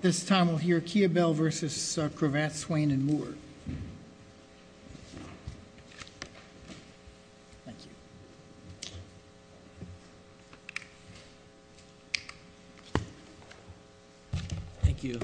This time we'll hear Kiobel v. Cravath, Swaine & Moore. Thank you. Thank you.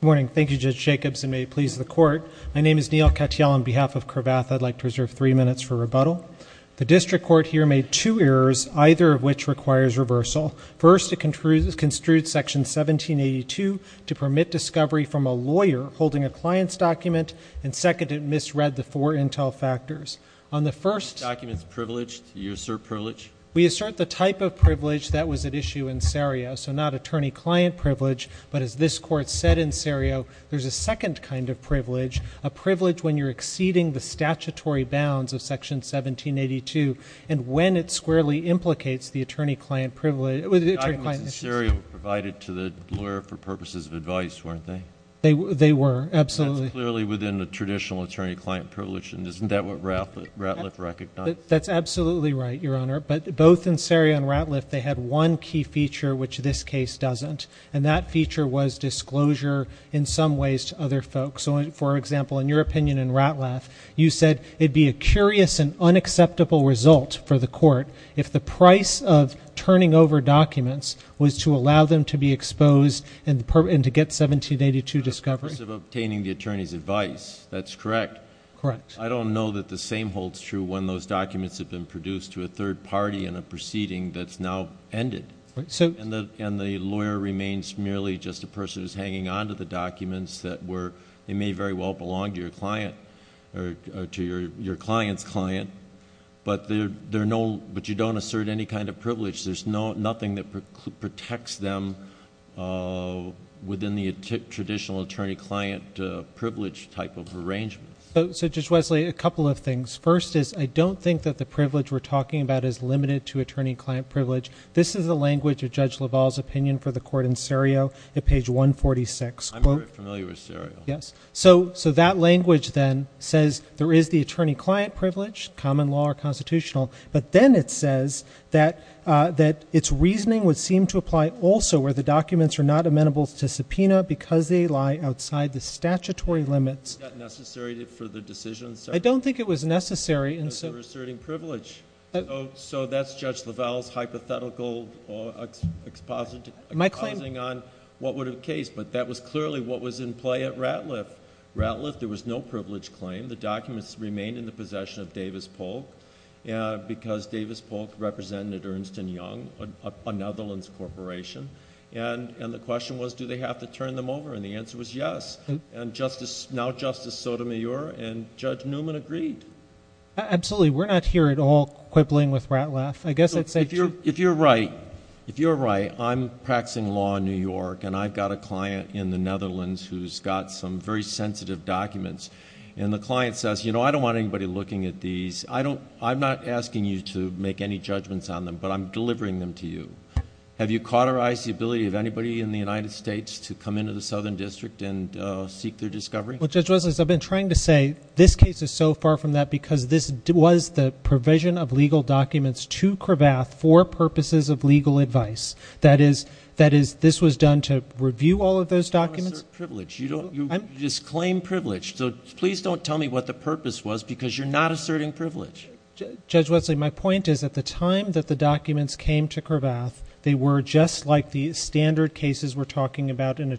Good morning. Thank you, Judge Jacobs, and may it please the court. My name is Neil Katyal. On behalf of Cravath, I'd like to reserve three minutes for rebuttal. The district court here made two errors, either of which requires reversal. First, it construed Section 1782 to permit discovery from a lawyer holding a client's document. And second, it misread the four intel factors. On the first- Documents privileged, do you assert privilege? We assert the type of privilege that was at issue in sereo, so not attorney-client privilege. But as this court said in sereo, there's a second kind of privilege, a privilege when you're exceeding the statutory bounds of Section 1782 and when it squarely implicates the attorney-client privilege. The documents in sereo were provided to the lawyer for purposes of advice, weren't they? They were, absolutely. Clearly within the traditional attorney-client privilege. And isn't that what Ratliff recognized? That's absolutely right, Your Honor. But both in sereo and Ratliff, they had one key feature, which this case doesn't. And that feature was disclosure, in some ways, to other folks. For example, in your opinion in Ratliff, you said it'd be a curious and unacceptable result for the court if the price of turning over documents was to allow them to be exposed and to get 1782 discovery. In terms of obtaining the attorney's advice, that's correct. Correct. I don't know that the same holds true when those documents have been produced to a third party in a proceeding that's now ended. And the lawyer remains merely just a person who's hanging onto the documents that were, they may very well belong to your client, or to your client's client, but you don't assert any kind of privilege. There's nothing that protects them within the traditional attorney-client privilege type of arrangement. So Judge Wesley, a couple of things. First is, I don't think that the privilege we're talking about is limited to attorney-client privilege. This is the language of Judge LaValle's opinion for the court in sereo at page 146. I'm very familiar with sereo. Yes. So that language, then, says there is the attorney-client privilege, common law or constitutional. But then it says that its reasoning would seem to apply also where the documents are not amenable to subpoena because they lie outside the statutory limits. Is that necessary for the decision, sir? I don't think it was necessary. But you're asserting privilege. So that's Judge LaValle's hypothetical expositing on what would have case, but that was clearly what was in play at Ratliff. Ratliff, there was no privilege claim. The documents remained in the possession of Davis Polk because Davis Polk represented Ernst & Young, a Netherlands corporation. And the question was, do they have to turn them over? And the answer was yes. And now Justice Sotomayor and Judge Newman agreed. Absolutely. We're not here at all quibbling with Ratliff. I guess I'd say, too. If you're right, if you're right, I'm practicing law in New York. And I've got a client in the Netherlands who's got some very sensitive documents. And the client says, I don't want anybody looking at these. I'm not asking you to make any judgments on them, but I'm delivering them to you. Have you cauterized the ability of anybody in the United States to come into the Southern District and seek their discovery? Well, Judge Wesley, as I've been trying to say, this case is so far from that because this was the provision of legal documents to Cravath for purposes of legal advice. That is, this was done to review all of those documents. You don't assert privilege. You just claim privilege. So please don't tell me what the purpose was, because you're not asserting privilege. Judge Wesley, my point is at the time that the documents came to Cravath, they were just like the standard cases we're talking about, a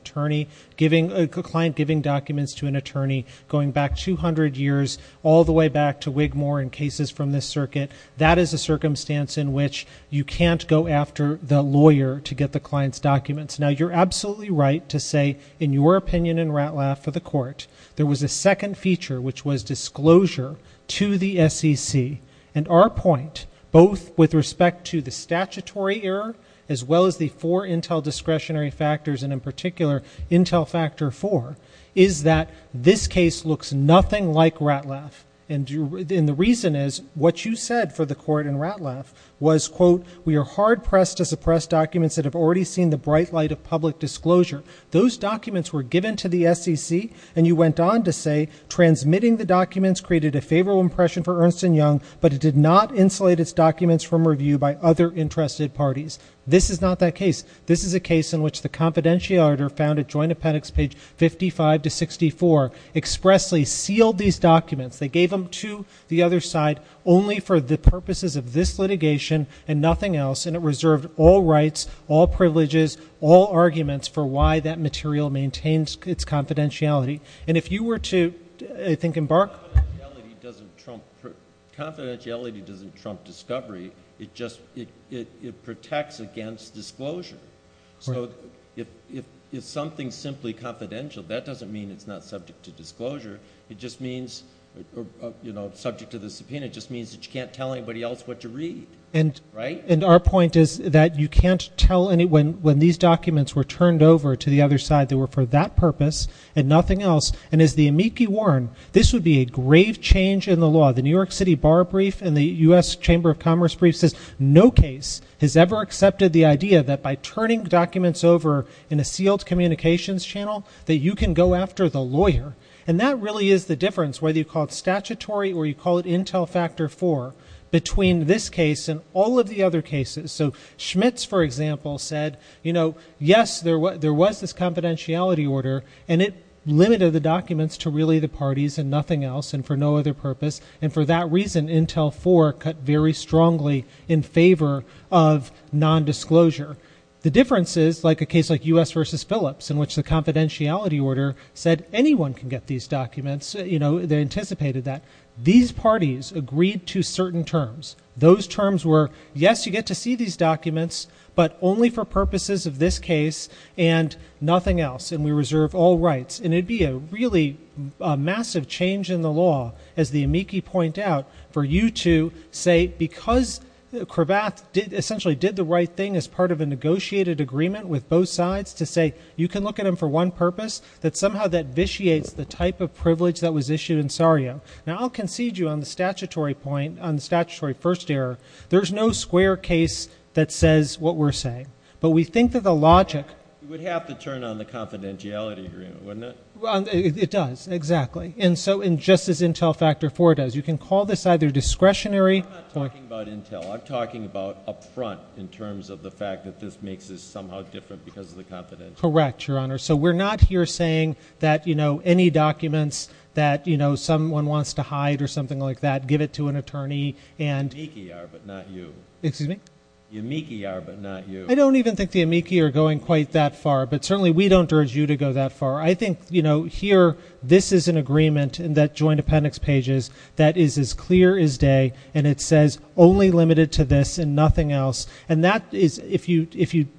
client giving documents to an attorney, going back 200 years, all the way back to Wigmore in cases from this circuit. That is a circumstance in which you can't go after the lawyer to get the client's documents. Now, you're absolutely right to say, in your opinion in RATLAF for the court, there was a second feature, which was disclosure to the SEC. And our point, both with respect to the statutory error, as well as the four Intel discretionary factors, and in particular, Intel Factor 4, is that this case looks nothing like RATLAF. And the reason is, what you said for the court in RATLAF was, quote, we are hard-pressed to suppress documents that have already seen the bright light of public disclosure. Those documents were given to the SEC. And you went on to say, transmitting the documents created a favorable impression for Ernst & Young, but it did not insulate its documents from review by other interested parties. This is not that case. This is a case in which the confidentiality order found at Joint Appendix page 55 to 64 expressly sealed these documents. They gave them to the other side only for the purposes of this litigation and nothing else. And it reserved all rights, all privileges, all arguments for why that material maintains its confidentiality. And if you were to, I think, embark on it. Confidentiality doesn't trump discovery. It just protects against disclosure. So if something's simply confidential, that doesn't mean it's not subject to disclosure. It just means, subject to the subpoena, it just means that you can't tell anybody else what to read, right? And our point is that you can't tell anyone, when these documents were turned over to the other side, they were for that purpose and nothing else. And as the amici warn, this would be a grave change in the law. The New York City Bar Brief and the US Chamber of Commerce Brief says, no case has ever accepted the idea that by turning documents over in a sealed communications channel, that you can go after the lawyer. And that really is the difference, whether you call it statutory or you call it Intel Factor 4, between this case and all of the other cases. So Schmitz, for example, said, yes, there was this confidentiality order, and it limited the documents to really the parties and nothing else and for no other purpose. And for that reason, Intel 4 cut very strongly in favor of non-disclosure. The difference is, like a case like US versus Phillips, in which the confidentiality order said, anyone can get these documents. They anticipated that. These parties agreed to certain terms. Those terms were, yes, you get to see these documents, but only for purposes of this case and nothing else. And we reserve all rights. And it'd be a really massive change in the law, as the amici point out, for you to say, because Cravath essentially did the right thing as part of a negotiated agreement with both sides, to say you can look at him for one purpose, that somehow that vitiates the type of privilege that was issued in Sario. Now, I'll concede you on the statutory point, on the statutory first error. There's no square case that says what we're saying. But we think that the logic. You would have to turn on the confidentiality agreement, wouldn't it? It does, exactly. And so, just as Intel Factor 4 does, you can call this either discretionary. I'm not talking about Intel. I'm talking about upfront, in terms of the fact that this makes us somehow different because of the confidentiality. Correct, Your Honor. So we're not here saying that any documents that someone wants to hide or something like that, give it to an attorney. The amici are, but not you. Excuse me? The amici are, but not you. I don't even think the amici are going quite that far. But certainly, we don't urge you to go that far. I think here, this is an agreement in that joint appendix pages that is as clear as day. And it says, only limited to this and nothing else. And that is, if you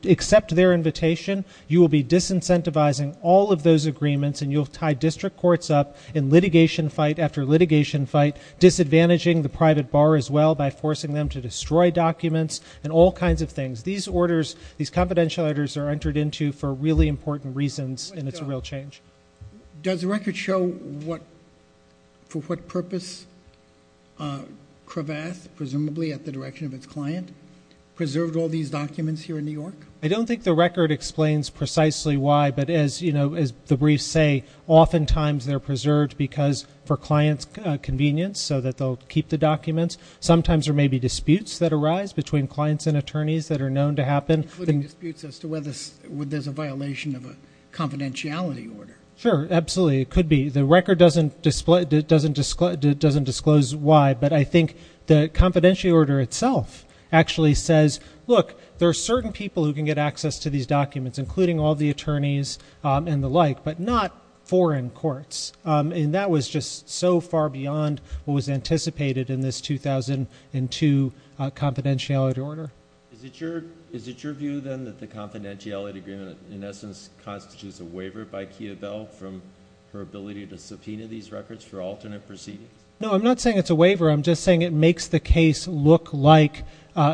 accept their invitation, you will be disincentivizing all of those agreements. And you'll tie district courts up in litigation fight after litigation fight, disadvantaging the private bar as well by forcing them to destroy documents, and all kinds of things. These orders, these confidential orders are entered into for really important reasons. And it's a real change. Does the record show for what purpose Cravath, presumably at the direction of its client, preserved all these documents here in New York? I don't think the record explains precisely why. But as the briefs say, oftentimes they're convenience so that they'll keep the documents. Sometimes there may be disputes that arise between clients and attorneys that are known to happen. Including disputes as to whether there's a violation of a confidentiality order. Sure, absolutely. It could be. The record doesn't disclose why. But I think the confidentiality order itself actually says, look, there are certain people who can get access to these documents, including all the attorneys and the like, but not foreign courts. And that was just so far beyond what was anticipated in this 2002 confidentiality order. Is it your view, then, that the confidentiality agreement in essence constitutes a waiver by Kia Bell from her ability to subpoena these records for alternate proceedings? No, I'm not saying it's a waiver. I'm just saying it makes the case look like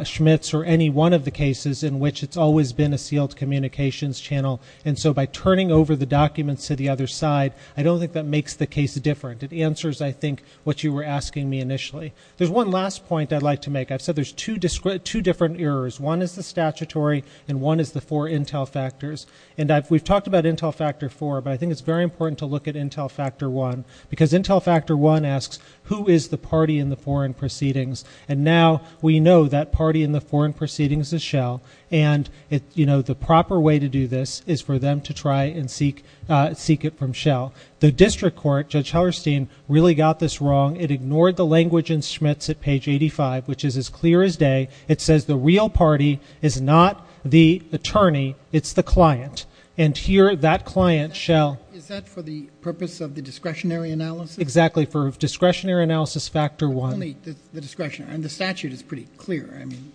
Schmitz or any one of the cases in which it's always been a sealed communications channel. And so by turning over the documents to the other side, I don't think that makes the case different. It answers, I think, what you were asking me initially. There's one last point I'd like to make. I've said there's two different errors. One is the statutory, and one is the four intel factors. And we've talked about intel factor four, but I think it's very important to look at intel factor one. Because intel factor one asks, who is the party in the foreign proceedings? And now we know that party in the foreign proceedings is Shell. And the proper way to do this is for them to try and seek it from Shell. The district court, Judge Hellerstein, really got this wrong. It ignored the language in Schmitz at page 85, which is as clear as day. It says the real party is not the attorney. It's the client. And here, that client, Shell. Is that for the purpose of the discretionary analysis? Exactly, for discretionary analysis factor one. But only the discretionary. And the statute is pretty clear. I mean,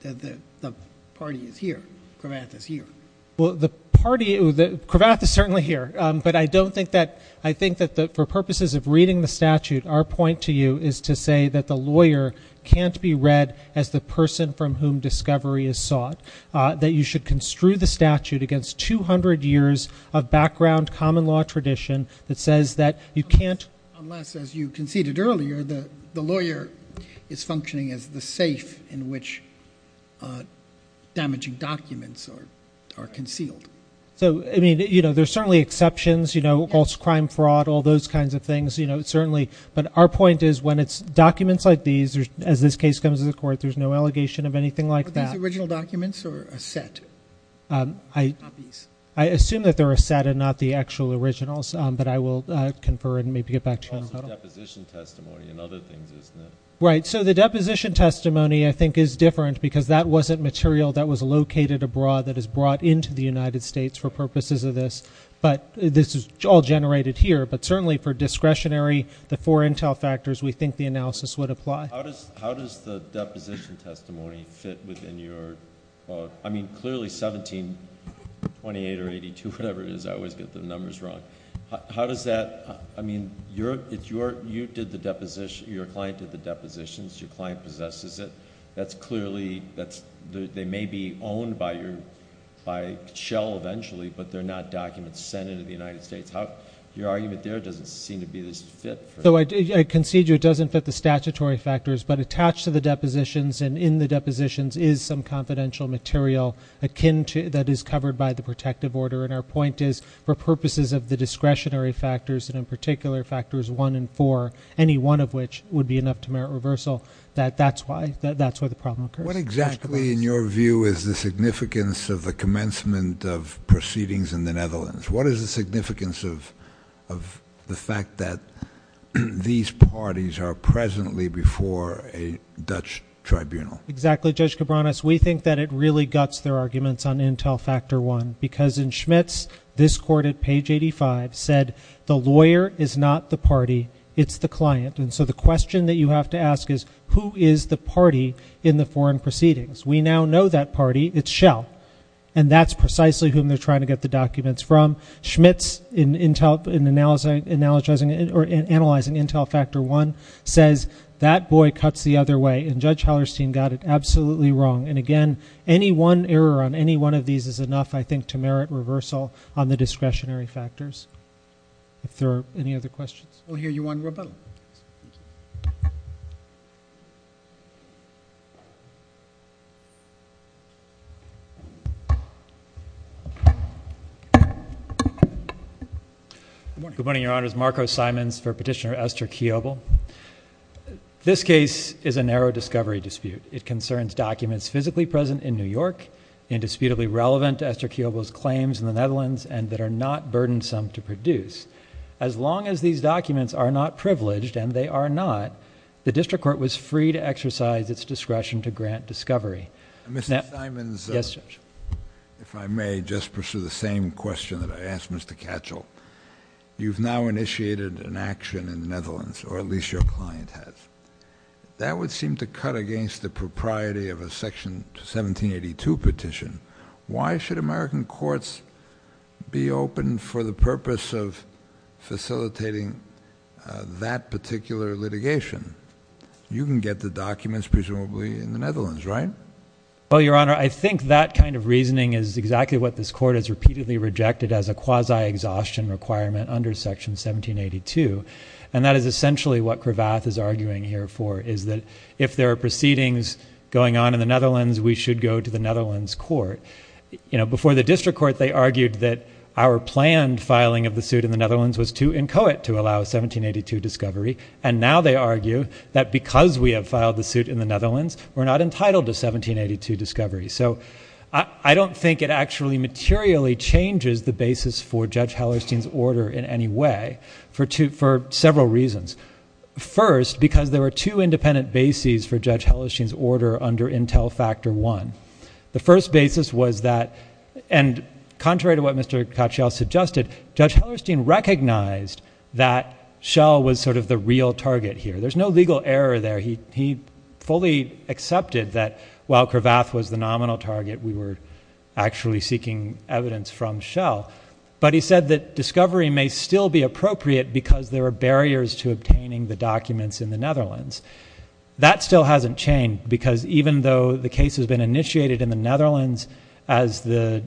the party is here. Kravath is here. The party, Kravath is certainly here. But I don't think that, I think that for purposes of reading the statute, our point to you is to say that the lawyer can't be read as the person from whom discovery is sought. That you should construe the statute against 200 years of background common law tradition that says that you can't. Unless, as you conceded earlier, the lawyer is functioning as the safe in which damaging documents are concealed. So, I mean, there's certainly exceptions, false crime, fraud, all those kinds of things, certainly. But our point is when it's documents like these, as this case comes to the court, there's no allegation of anything like that. Are these original documents or a set? I assume that they're a set and not the actual originals. But I will confer and maybe get back to you in a little. Deposition testimony and other things, isn't it? Right, so the deposition testimony, I think, is different because that wasn't material that was located abroad that is brought into the United States for purposes of this. But this is all generated here. But certainly for discretionary, the four intel factors, we think the analysis would apply. How does the deposition testimony fit within your, I mean, clearly 1728 or 82, whatever it is, I always get the numbers wrong. How does that, I mean, you did the deposition, your client did the depositions, your client possesses it. That's clearly, they may be owned by Shell eventually, but they're not documents sent into the United States. Your argument there doesn't seem to be this fit. So I concede you it doesn't fit the statutory factors, but attached to the depositions and in the depositions is some confidential material akin to, that is covered by the protective order. And our point is, for purposes of the discretionary factors and in particular factors one and four, any one of which would be enough to merit reversal, that's why the problem occurs. What exactly in your view is the significance of the commencement of proceedings in the Netherlands? What is the significance of the fact that these parties are presently before a Dutch tribunal? Exactly, Judge Cabranes, we think that it really guts their arguments on intel factor one, because in Schmitz, this court at page 85 said, the lawyer is not the party, it's the client. And so the question that you have to ask is, who is the party in the foreign proceedings? We now know that party, it's Shell, and that's precisely whom they're trying to get the documents from. Schmitz in analyzing intel factor one says, that boy cuts the other way, and Judge Hallerstein got it absolutely wrong. And again, any one error on any one of these is enough, I think, to merit reversal on the discretionary factors. If there are any other questions. We'll hear you on rebuttal. Good morning, your honors. Marco Simons for Petitioner Esther Keobel. This case is a narrow discovery dispute. It concerns documents physically present in New York, indisputably relevant to Esther Keobel's claims in the Netherlands, and that are not burdensome to produce. As long as these documents are not privileged, and they are not, the district court was free to exercise its discretion to grant discovery. Mr. Simons. Yes, Judge. If I may just pursue the same question that I asked Mr. Katchel. You've now initiated an action in the Netherlands, or at least your client has. That would seem to cut against the propriety of a section 1782 petition. Why should American courts be open for the purpose of facilitating that particular litigation? You can get the documents presumably in the Netherlands, right? Well, your honor, I think that kind of reasoning is exactly what this court has repeatedly rejected as a quasi-exhaustion requirement under section 1782. And that is essentially what Cravath is arguing here for, is that if there are proceedings going on in the Netherlands, we should go to the Netherlands court. You know, before the district court, they argued that our planned filing of the suit in the Netherlands was too inchoate to allow 1782 discovery, and now they argue that because we have filed the suit in the Netherlands, we're not entitled to 1782 discovery. So I don't think it actually materially changes the basis for Judge Hellerstein's order in any way for several reasons. First, because there were two independent bases for Judge Hellerstein's order under Intel Factor I. The first basis was that, and contrary to what Mr. Cotchiel suggested, Judge Hellerstein recognized that Shell was sort of the real target here. There's no legal error there. He fully accepted that while Cravath was the nominal target, we were actually seeking evidence from Shell. But he said that discovery may still be appropriate because there are barriers to obtaining the documents in the Netherlands. That still hasn't changed, because even though the case has been initiated in the Netherlands, as the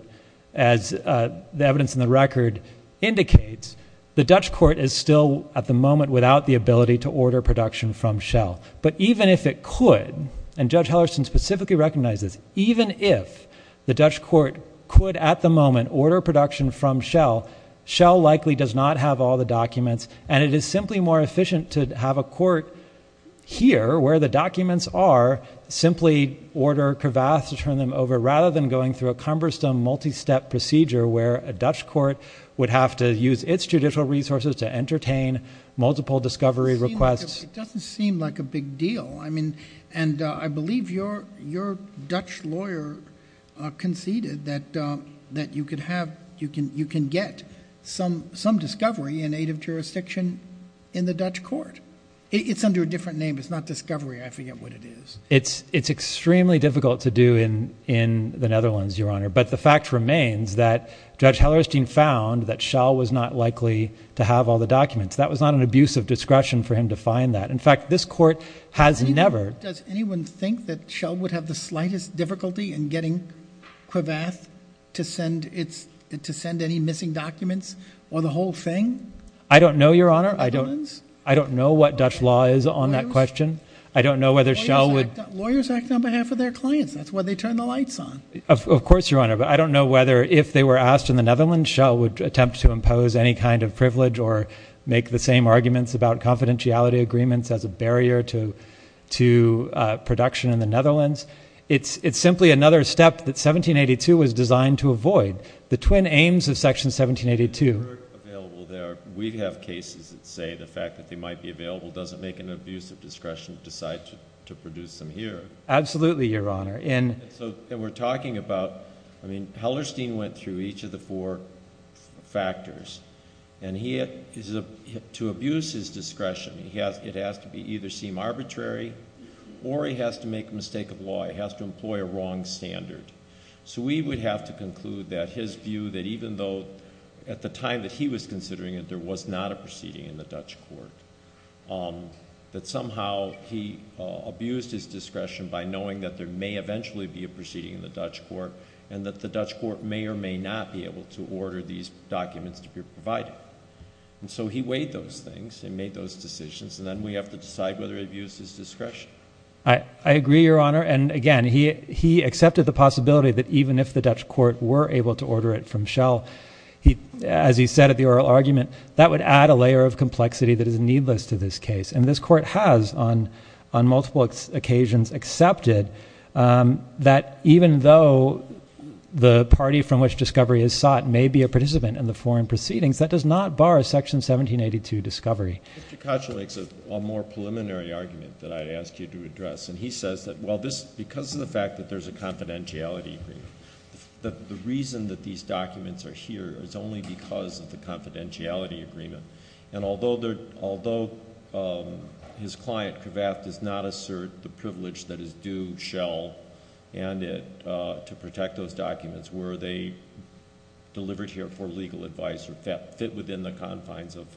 evidence in the record indicates, the Dutch court is still, at the moment, without the ability to order production from Shell. But even if it could, and Judge Hellerstein specifically recognized this, even if the Dutch court could, at the moment, order production from Shell, Shell likely does not have all the documents, and it is simply more efficient to have a court here, where the documents are, simply order Cravath to turn them over, rather than going through a cumbersome, multi-step procedure, where a Dutch court would have to use its judicial resources to entertain multiple discovery requests. It doesn't seem like a big deal. I mean, and I believe your Dutch lawyer conceded that you can get some discovery in aid of jurisdiction in the Dutch court. It's under a different name, it's not discovery, I forget what it is. It's extremely difficult to do in the Netherlands, Your Honor, but the fact remains that Judge Hellerstein found that Shell was not likely to have all the documents. That was not an abuse of discretion for him to find that. In fact, this court has never. Does anyone think that Shell would have the slightest difficulty in getting Cravath to send any missing documents, or the whole thing? I don't know, Your Honor. I don't know what Dutch law is on that question. I don't know whether Shell would. Lawyers act on behalf of their clients, that's why they turn the lights on. Of course, Your Honor, but I don't know whether, if they were asked in the Netherlands, Shell would attempt to impose any kind of privilege, or make the same arguments about confidentiality agreements as a barrier to production in the Netherlands. It's simply another step that 1782 was designed to avoid. The twin aims of Section 1782. If they were available there, we'd have cases that say the fact that they might be available doesn't make an abuse of discretion to decide to produce them here. Absolutely, Your Honor. And we're talking about, I mean, Hellerstein went through each of the four factors. And to abuse his discretion, it has to either seem arbitrary, or he has to make a mistake of law. He has to employ a wrong standard. So we would have to conclude that his view, that even though, at the time that he was considering it, there was not a proceeding in the Dutch court, that somehow he abused his discretion by knowing that there may eventually be a proceeding in the Dutch court, and that the Dutch court may or may not be able to order these documents to be provided. And so he weighed those things, and made those decisions. And then we have to decide whether it abuses discretion. I agree, Your Honor. And again, he accepted the possibility that even if the Dutch court were able to order it from Shell, as he said at the oral argument, that would add a layer of complexity that is needless to this case. And this court has, on multiple occasions, accepted that even though the party from which discovery is sought may be a participant in the foreign proceedings, that does not bar Section 1782 discovery. Mr. Kotchalak's a more preliminary argument that I'd ask you to address. And he says that, well, because of the fact that there's a confidentiality agreement, the reason that these documents are here is only because of the confidentiality agreement. And although his client, Cravat, does not assert the privilege that is due Shell and it to protect those documents, were they delivered here for legal advice or fit within the confines of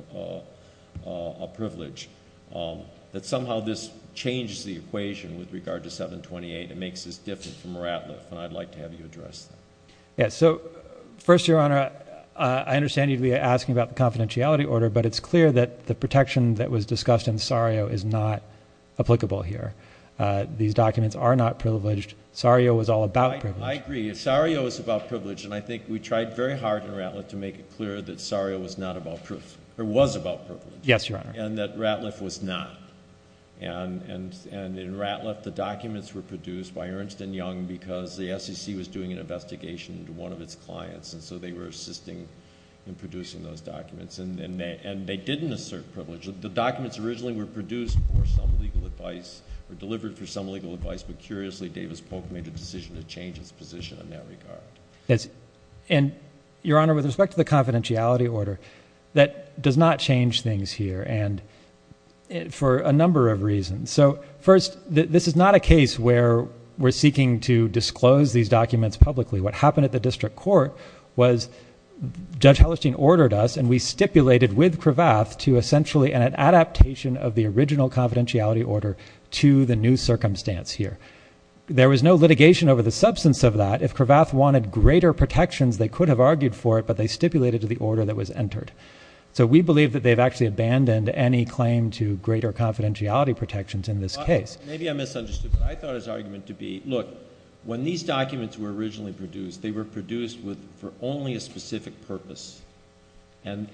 a privilege, that somehow this changes the equation with regard to 728. It makes this different from Ratliff. And I'd like to have you address that. Yes, so first, Your Honor, I understand you'd be asking about the confidentiality order. But it's clear that the protection that was discussed in Sario is not applicable here. These documents are not privileged. Sario was all about privilege. I agree. Sario was about privilege. And I think we tried very hard in Ratliff to make it clear that Sario was not about privilege, or was about privilege. Yes, Your Honor. And that Ratliff was not. And in Ratliff, the documents were produced by Ernst and Young because the SEC was doing an investigation into one of its clients. And so they were assisting in producing those documents. And they didn't assert privilege. The documents originally were produced for some legal advice, were delivered for some legal advice. But curiously, Davis-Polk made a decision to change its position in that regard. And Your Honor, with respect to the confidentiality order, that does not change things here for a number of reasons. So first, this is not a case where we're seeking to disclose these documents publicly. What happened at the district court was Judge Hallerstein ordered us, and we stipulated with Cravath to essentially an adaptation of the original confidentiality order to the new circumstance here. There was no litigation over the substance of that. If Cravath wanted greater protections, they could have argued for it. But they stipulated to the order that was entered. So we believe that they've actually Maybe I misunderstood. But I thought his argument to be, look, when these documents were originally produced, they were produced for only a specific purpose. And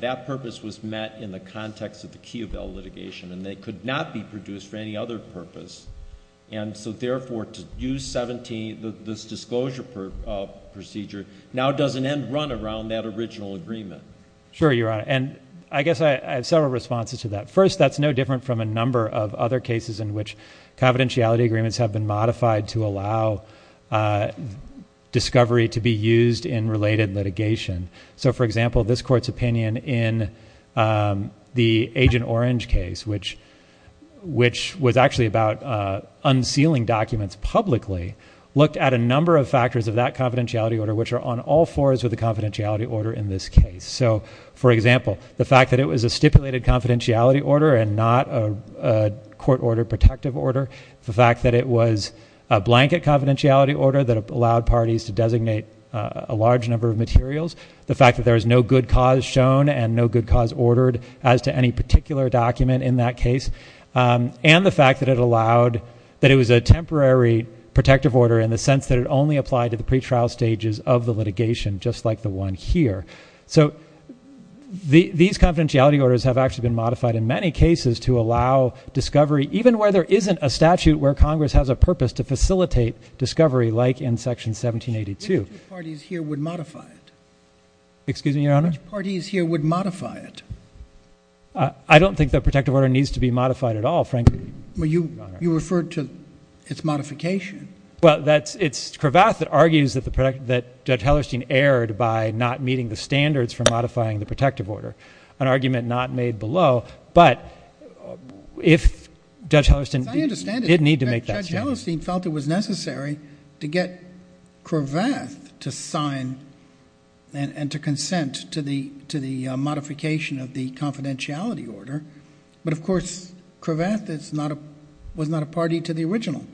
that purpose was met in the context of the Kiobel litigation. And they could not be produced for any other purpose. And so therefore, to use 17, this disclosure procedure, now does an end run around that original agreement. Sure, Your Honor. I guess I have several responses to that. First, that's no different from a number of other cases in which confidentiality agreements have been modified to allow discovery to be used in related litigation. So for example, this court's opinion in the Agent Orange case, which was actually about unsealing documents publicly, looked at a number of factors of that confidentiality order which are on all fours of the confidentiality order in this case. So for example, the fact that it was a stipulated confidentiality order and not a court order protective order, the fact that it was a blanket confidentiality order that allowed parties to designate a large number of materials, the fact that there is no good cause shown and no good cause ordered as to any particular document in that case, and the fact that it allowed that it was a temporary protective order in the sense that it only applied to the pretrial stages of the litigation, just like the one here. So these confidentiality orders have actually been modified in many cases to allow discovery, even where there isn't a statute where Congress has a purpose to facilitate discovery, like in section 1782. Which parties here would modify it? Excuse me, Your Honor? Which parties here would modify it? I don't think the protective order needs to be modified at all, frankly. Well, you referred to its modification. Well, it's Cravath that argues that Judge Hellerstein erred by not meeting the standards for modifying the protective order, an argument not made below. But if Judge Hellerstein didn't need to make that statement. I understand it. Judge Hellerstein felt it was necessary to get Cravath to sign and to consent to the modification of the confidentiality order. But of course, Cravath was not a party to the original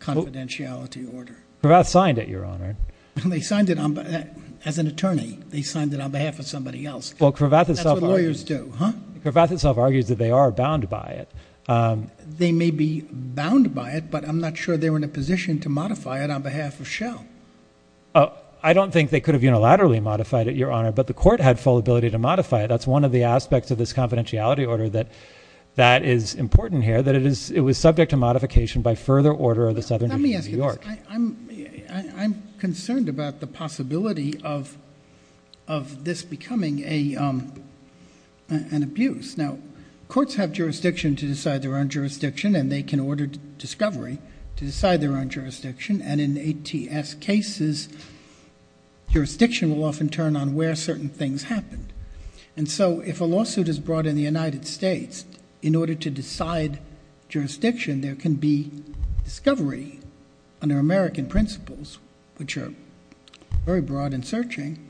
confidentiality order. Cravath signed it, Your Honor. They signed it as an attorney. They signed it on behalf of somebody else. Well, Cravath himself argues that they are bound by it. They may be bound by it, but I'm not sure they were in a position to modify it on behalf of Shell. I don't think they could have unilaterally modified it, Your Honor. But the court had full ability to modify it. That's one of the aspects of this confidentiality order that that is important here, that it was subject to modification by further order of the Southern Union of New York. I'm concerned about the possibility of this becoming an abuse. Now, courts have jurisdiction to decide their own jurisdiction, and they can order discovery to decide their own jurisdiction. And in ATS cases, jurisdiction will often turn on where certain things happened. And so if a lawsuit is brought in the United States, in order to decide jurisdiction, there can be discovery under American principles, which are very broad in searching,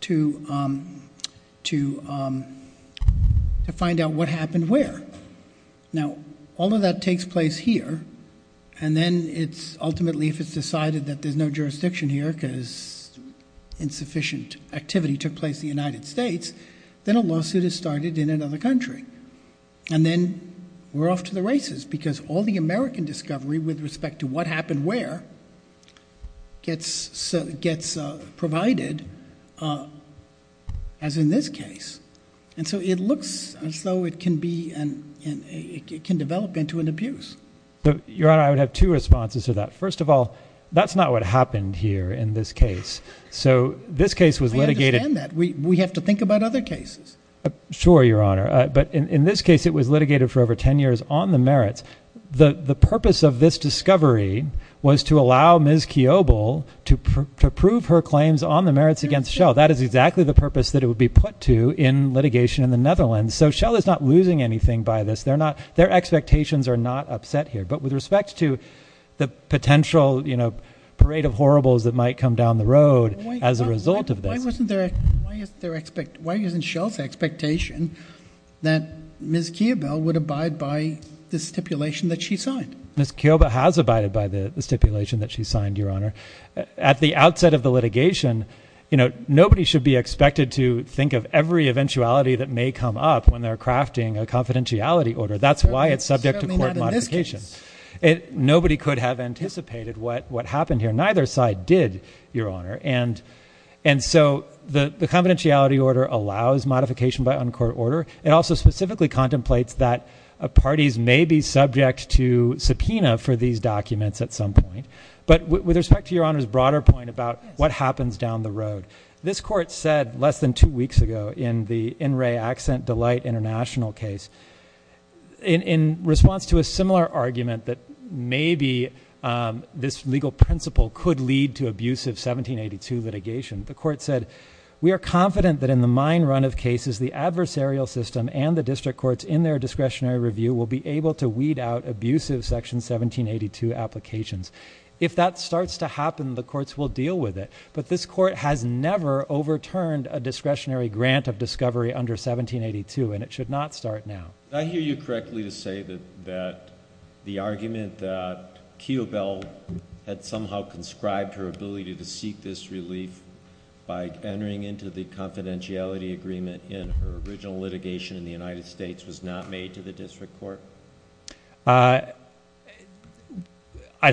to find out what happened where. Now, all of that takes place here. And then ultimately, if it's decided that there's no jurisdiction here because insufficient activity took place in the United States, then a lawsuit is started in another country. And then we're off to the races, because all the American discovery, with respect to what happened where, gets provided, as in this case. And so it looks as though it can develop into an abuse. Your Honor, I would have two responses to that. First of all, that's not what happened here in this case. So this case was litigated. I understand that. We have to think about other cases. Sure, Your Honor. But in this case, it was litigated for over 10 years on the merits. The purpose of this discovery was to allow Ms. Kiobel to prove her claims on the merits against Shell. That is exactly the purpose that it would be put to in litigation in the Netherlands. So Shell is not losing anything by this. Their expectations are not upset here. But with respect to the potential parade of horribles that might come down the road as a result of this. Why isn't Shell's expectation that Ms. Kiobel would abide by the stipulation that she signed? Ms. Kiobel has abided by the stipulation that she signed, Your Honor. At the outset of the litigation, nobody should be expected to think of every eventuality that may come up when they're crafting a confidentiality order. That's why it's subject to court modification. Nobody could have anticipated what happened here. Neither side did, Your Honor. And so the confidentiality order allows modification by uncourt order. It also specifically contemplates that parties may be subject to subpoena for these documents at some point. But with respect to Your Honor's broader point about what happens down the road, this court said less than two weeks ago in the In Re Accent Delight International case, in response to a similar argument that maybe this legal principle could lead to abusive 1782 litigation, the court said, we are confident that in the mine run of cases, the adversarial system and the district courts in their discretionary review will be able to weed out abusive Section 1782 applications. If that starts to happen, the courts will deal with it. But this court has never overturned a discretionary grant of discovery under 1782, and it should not start now. I hear you correctly to say that the argument that Keobel had somehow conscribed her ability to seek this relief by entering into the confidentiality agreement in her original litigation in the United States was not made to the district court? I'd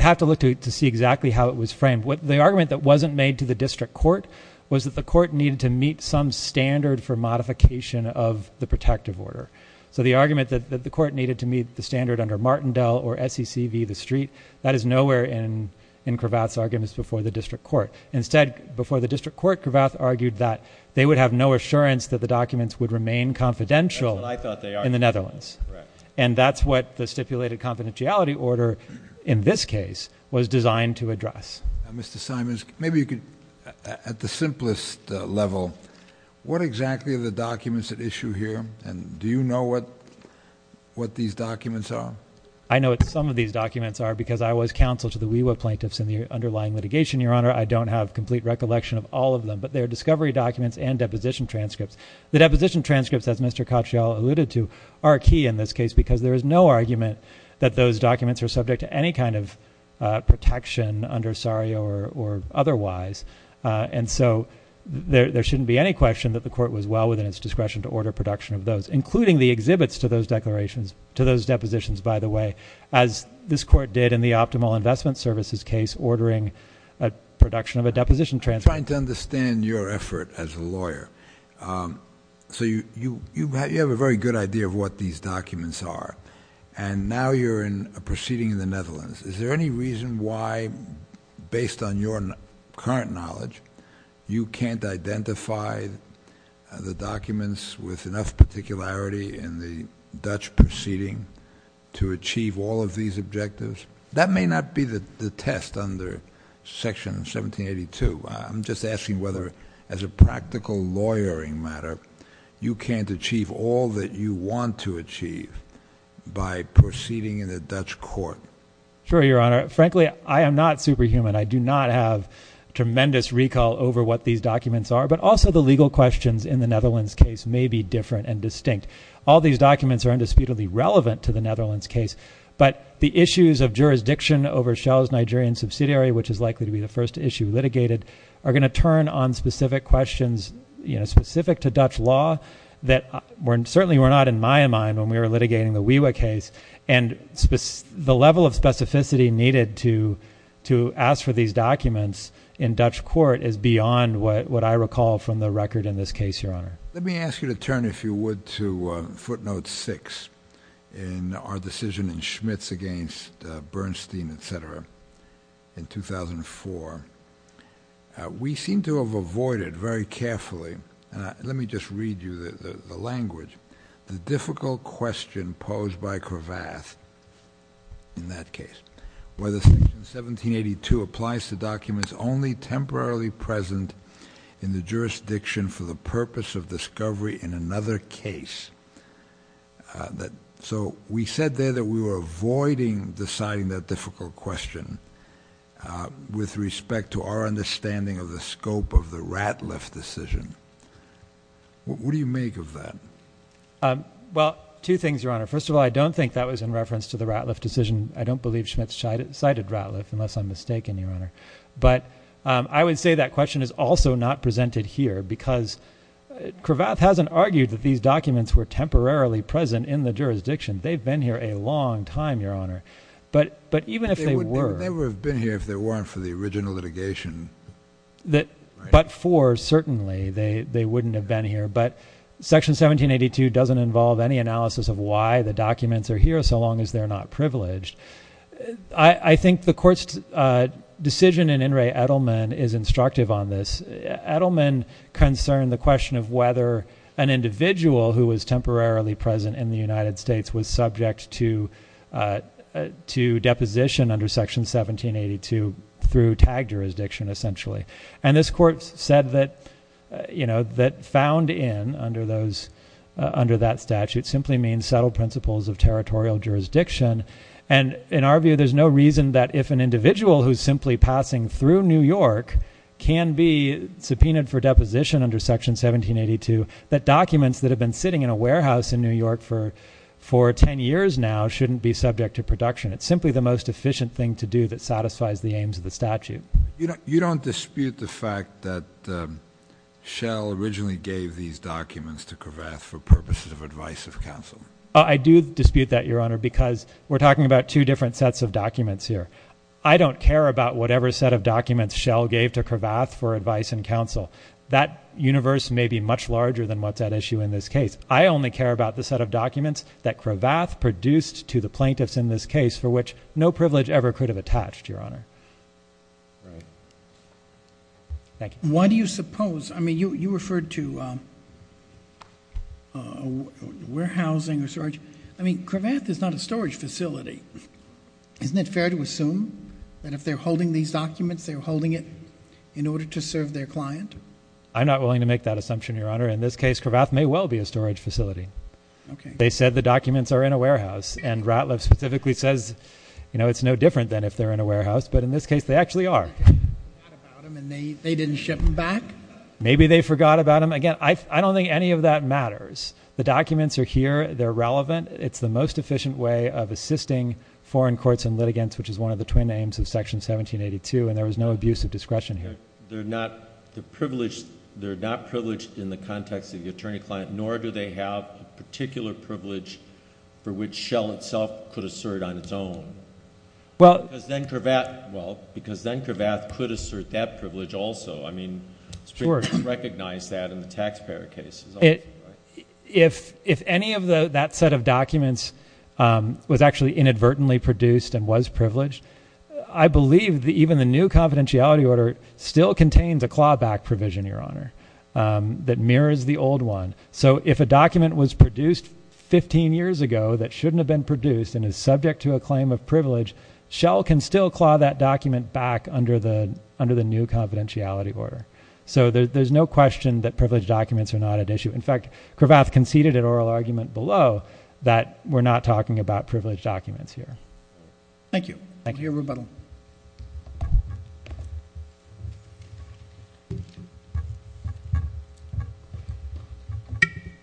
have to look to see exactly how it was framed. The argument that wasn't made to the district court was that the court needed to meet some standard for modification of the protective order. So the argument that the court needed to meet the standard under Martindale or SEC v. The Street, that is nowhere in Cravath's arguments before the district court. Instead, before the district court, Cravath argued that they would have no assurance that the documents would remain confidential. That's what I thought they are. In the Netherlands. And that's what the stipulated confidentiality order, in this case, was designed to address. Mr. Simons, maybe you could, at the simplest level, what exactly are the documents at issue here? And do you know what these documents are? I know what some of these documents are because I was counsel to the WEWA plaintiffs in the underlying litigation, Your Honor. I don't have complete recollection of all of them. But they're discovery documents and deposition transcripts. The deposition transcripts, as Mr. Katyal alluded to, are key in this case because there is no argument that those documents are subject to any kind of protection under SARIA or otherwise. And so there shouldn't be any question that the court was well within its discretion to order production of those, including the exhibits to those declarations, to those depositions, by the way, as this court did in the Optimal Investment Services case, ordering a production of a deposition transcript. I'm trying to understand your effort as a lawyer. So you have a very good idea of what these documents are. And now you're in a proceeding in the Netherlands. Is there any reason why, based on your current knowledge, you can't identify the documents with enough particularity in the Dutch proceeding to achieve all of these objectives? That may not be the test under Section 1782. I'm just asking whether, as a practical lawyering matter, you can't achieve all that you want to achieve by proceeding in the Dutch court. Sure, Your Honor. Frankly, I am not superhuman. I do not have tremendous recall over what these documents are, but also the legal questions in the Netherlands case may be different and distinct. All these documents are indisputably relevant to the Netherlands case, but the issues of jurisdiction over Shell's Nigerian subsidiary, which is likely to be the first issue litigated, are gonna turn on specific questions, specific to Dutch law, that certainly were not in my mind when we were litigating the Wiwa case. And the level of specificity needed to ask for these documents in Dutch court is beyond what I recall from the record in this case, Your Honor. Let me ask you to turn, if you would, to footnote six in our decision in Schmitz against Bernstein, et cetera. In 2004, we seem to have avoided very carefully, let me just read you the language, the difficult question posed by Cravath in that case, whether Section 1782 applies to documents only temporarily present in the jurisdiction for the purpose of discovery in another case. So we said there that we were avoiding deciding that difficult question with respect to our understanding of the scope of the Ratliff decision. What do you make of that? Well, two things, Your Honor. First of all, I don't think that was in reference to the Ratliff decision. I don't believe Schmitz cited Ratliff, unless I'm mistaken, Your Honor. But I would say that question is also not presented here, because Cravath hasn't argued that these documents were temporarily present in the jurisdiction. They've been here a long time, Your Honor. But even if they were. They would have been here if they weren't for the original litigation. But for, certainly, they wouldn't have been here. But Section 1782 doesn't involve any analysis of why the documents are here, so long as they're not privileged. I think the court's decision in In re Edelman is instructive on this. Edelman concerned the question of whether an individual who was temporarily present in the United States was subject to deposition under Section 1782 through tagged jurisdiction, essentially. And this court said that found in under that statute simply means settled principles of territorial jurisdiction. And in our view, there's no reason that if an individual who's simply passing through New York can be subpoenaed for deposition under Section 1782, that documents that have been sitting in a warehouse in New York for 10 years now shouldn't be subject to production. It's simply the most efficient thing to do that satisfies the aims of the statute. You don't dispute the fact that Shell originally gave these documents to Cravath for purposes of advice of counsel? I do dispute that, Your Honor, because we're talking about two different sets of documents here. I don't care about whatever set of documents Shell gave to Cravath for advice and counsel. That universe may be much larger than what's at issue in this case. I only care about the set of documents that Cravath produced to the plaintiffs in this case for which no privilege ever could have attached, Your Honor. Thank you. Why do you suppose, I mean, you referred to warehousing or storage. I mean, Cravath is not a storage facility. Isn't it fair to assume that if they're holding these documents, they're holding it in order to serve their client? I'm not willing to make that assumption, Your Honor. In this case, Cravath may well be a storage facility. They said the documents are in a warehouse, and Ratliff specifically says it's no different than if they're in a warehouse, but in this case, they actually are. They forgot about them and they didn't ship them back? Maybe they forgot about them. Again, I don't think any of that matters. The documents are here, they're relevant. It's the most efficient way of assisting foreign courts and litigants, which is one of the twin names of Section 1782, and there was no abuse of discretion here. They're not privileged in the context of the attorney-client, nor do they have a particular privilege for which Shell itself could assert on its own. Well, because then Cravath could assert that privilege also. I mean, it's pretty much recognized that in the taxpayer cases. If any of that set of documents was actually inadvertently produced and was privileged, I believe that even the new confidentiality order still contains a clawback provision, Your Honor, that mirrors the old one. So if a document was produced 15 years ago that shouldn't have been produced and is subject to a claim of privilege, Shell can still claw that document back under the new confidentiality order. So there's no question that privileged documents are not at issue. In fact, Cravath conceded an oral argument below that we're not talking about privileged documents here. Thank you. Thank you, Rebuttal. Thank you.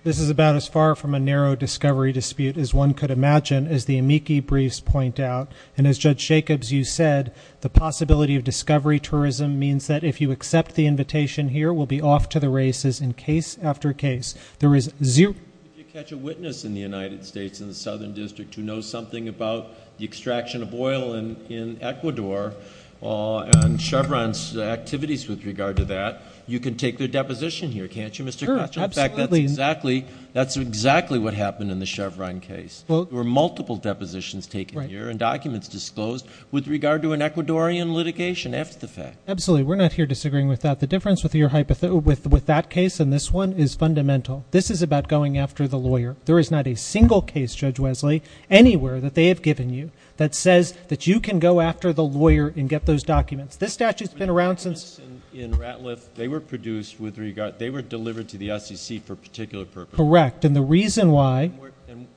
This is about as far from a narrow discovery dispute as one could imagine, as the amici briefs point out. And as Judge Jacobs, you said, the possibility of discovery tourism means that if you accept the invitation here, we'll be off to the races in case after case. There is zero- Did you catch a witness in the United States in the Southern District who knows something about the extraction of oil in Ecuador and Chevron's activities with regard to that? You can take their deposition here, can't you, Mr. Cratchit? In fact, that's exactly what happened in the Chevron case. There were multiple depositions taken here and documents disclosed with regard to an Ecuadorian litigation after the fact. Absolutely, we're not here disagreeing with that. The difference with that case and this one is fundamental. This is about going after the lawyer. There is not a single case, Judge Wesley, anywhere that they have given you that says that you can go after the lawyer and get those documents. This statute's been around since- In Ratliff, they were produced with regard, they were delivered to the SEC for a particular purpose. Correct, and the reason why-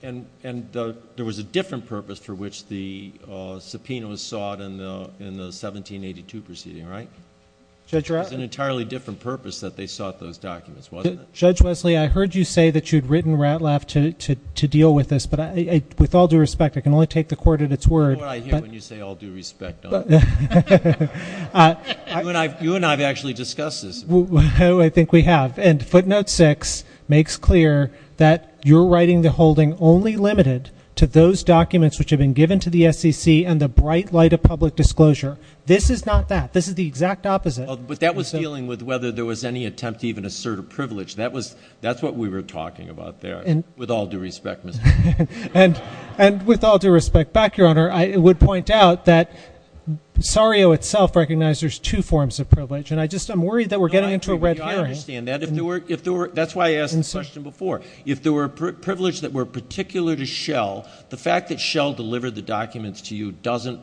And there was a different purpose for which the subpoena was sought in the 1782 proceeding, right? Judge Ratliff- It was an entirely different purpose that they sought those documents, wasn't it? Judge Wesley, I heard you say that you'd written Ratliff to deal with this, but with all due respect, I can only take the court at its word- You know what I hear when you say, all due respect, don't I? You and I have actually discussed this. Oh, I think we have, and footnote six makes clear that you're writing the holding only limited to those documents which have been given to the SEC and the bright light of public disclosure. This is not that. This is the exact opposite. But that was dealing with whether there was any attempt to even assert a privilege. That's what we were talking about there, with all due respect, Mr. Chairman. And with all due respect back, Your Honor, I would point out that Sario itself recognized there's two forms of privilege. And I just, I'm worried that we're getting into a red herring. No, I understand that. If there were, that's why I asked the question before. If there were a privilege that were particular to Shell, the fact that Shell delivered the documents to you doesn't,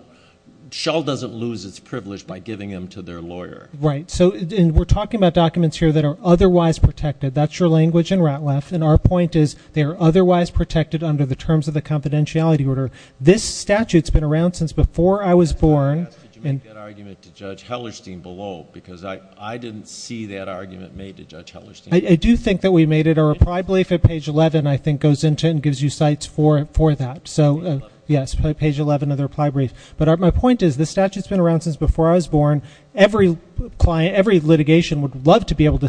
Shell doesn't lose its privilege by giving them to their lawyer. Right, so we're talking about documents here that are otherwise protected. That's your language in Ratliff. And our point is they are otherwise protected under the terms of the confidentiality order. This statute's been around since before I was born. Did you make that argument to Judge Hellerstein below? Because I didn't see that argument made to Judge Hellerstein. I do think that we made it. Our reply brief at page 11, I think, goes into and gives you sites for that. So, yes, page 11 of the reply brief. But my point is this statute's been around Every client, every litigation would love to be able to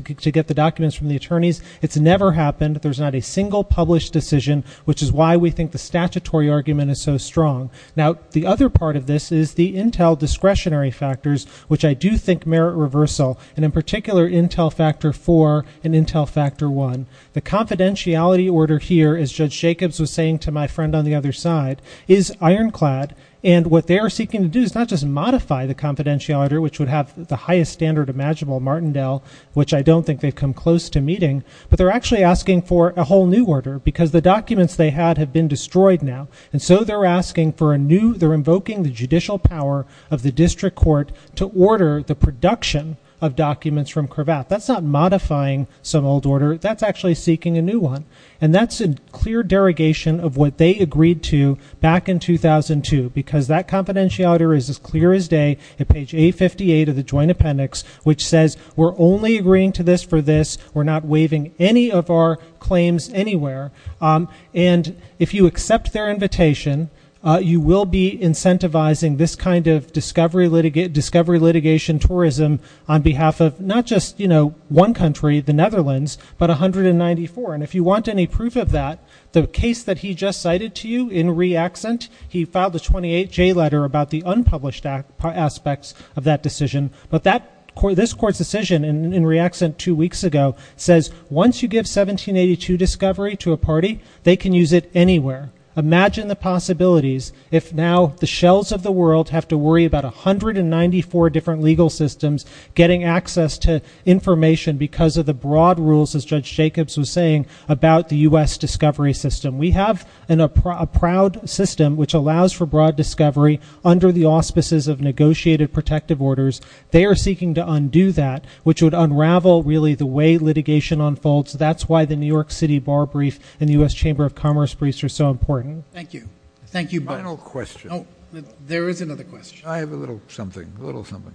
get the documents from the attorneys. It's never happened. There's not a single published decision, which is why we think the statutory argument is so strong. Now, the other part of this is the Intel discretionary factors, which I do think merit reversal, and in particular Intel Factor 4 and Intel Factor 1. The confidentiality order here, as Judge Jacobs was saying to my friend on the other side, is ironclad. And what they are seeking to do is not just modify the confidentiality order, which would have the highest standard imaginable, the Martindale, which I don't think they've come close to meeting, but they're actually asking for a whole new order because the documents they had have been destroyed now. And so they're asking for a new, they're invoking the judicial power of the district court to order the production of documents from Cravath. That's not modifying some old order. That's actually seeking a new one. And that's a clear derogation of what they agreed to back in 2002 because that confidentiality order is as clear as day at page 858 of the joint appendix, which says we're only agreeing to this for this. We're not waiving any of our claims anywhere. And if you accept their invitation, you will be incentivizing this kind of discovery litigation tourism on behalf of not just one country, the Netherlands, but 194. And if you want any proof of that, the case that he just cited to you in reaccent, he filed a 28-J letter about the unpublished aspects of that decision. But this court's decision in reaccent two weeks ago says, once you give 1782 discovery to a party, they can use it anywhere. Imagine the possibilities if now the shells of the world have to worry about 194 different legal systems getting access to information because of the broad rules, as Judge Jacobs was saying, about the U.S. discovery system. We have a proud system which allows for broad discovery under the auspices of negotiated protective orders. They are seeking to undo that, which would unravel really the way litigation unfolds. That's why the New York City Bar Brief and the U.S. Chamber of Commerce Briefs are so important. Thank you. Thank you both. Final question. There is another question. I have a little something, a little something.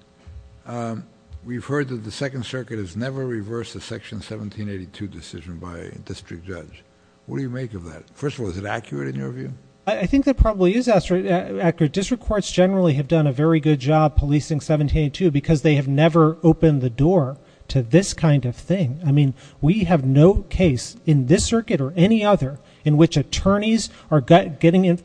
We've heard that the Second Circuit has never reversed the Section 1782 decision by a district judge. What do you make of that? First of all, is it accurate in your view? I think that probably is accurate. District courts generally have done a very good job policing 1782 because they have never opened the door to this kind of thing. I mean, we have no case in this circuit or any other in which attorneys are getting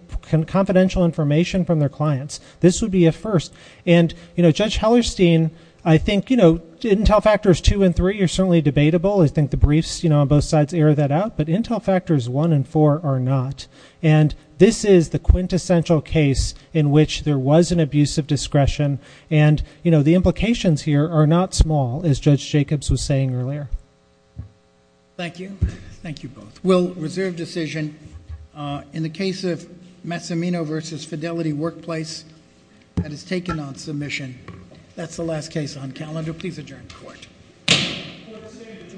confidential information from their clients. This would be a first. And, you know, Judge Hellerstein, I think, you know, intel factors two and three are certainly debatable. I think the briefs on both sides air that out, but intel factors one and four are not. And this is the quintessential case in which there was an abuse of discretion. And, you know, the implications here are not small, as Judge Jacobs was saying earlier. Thank you. Thank you both. We'll reserve decision. In the case of Massimino v. Fidelity Workplace, that is taken on submission. That's the last case on calendar. Please adjourn the court. Court is adjourned.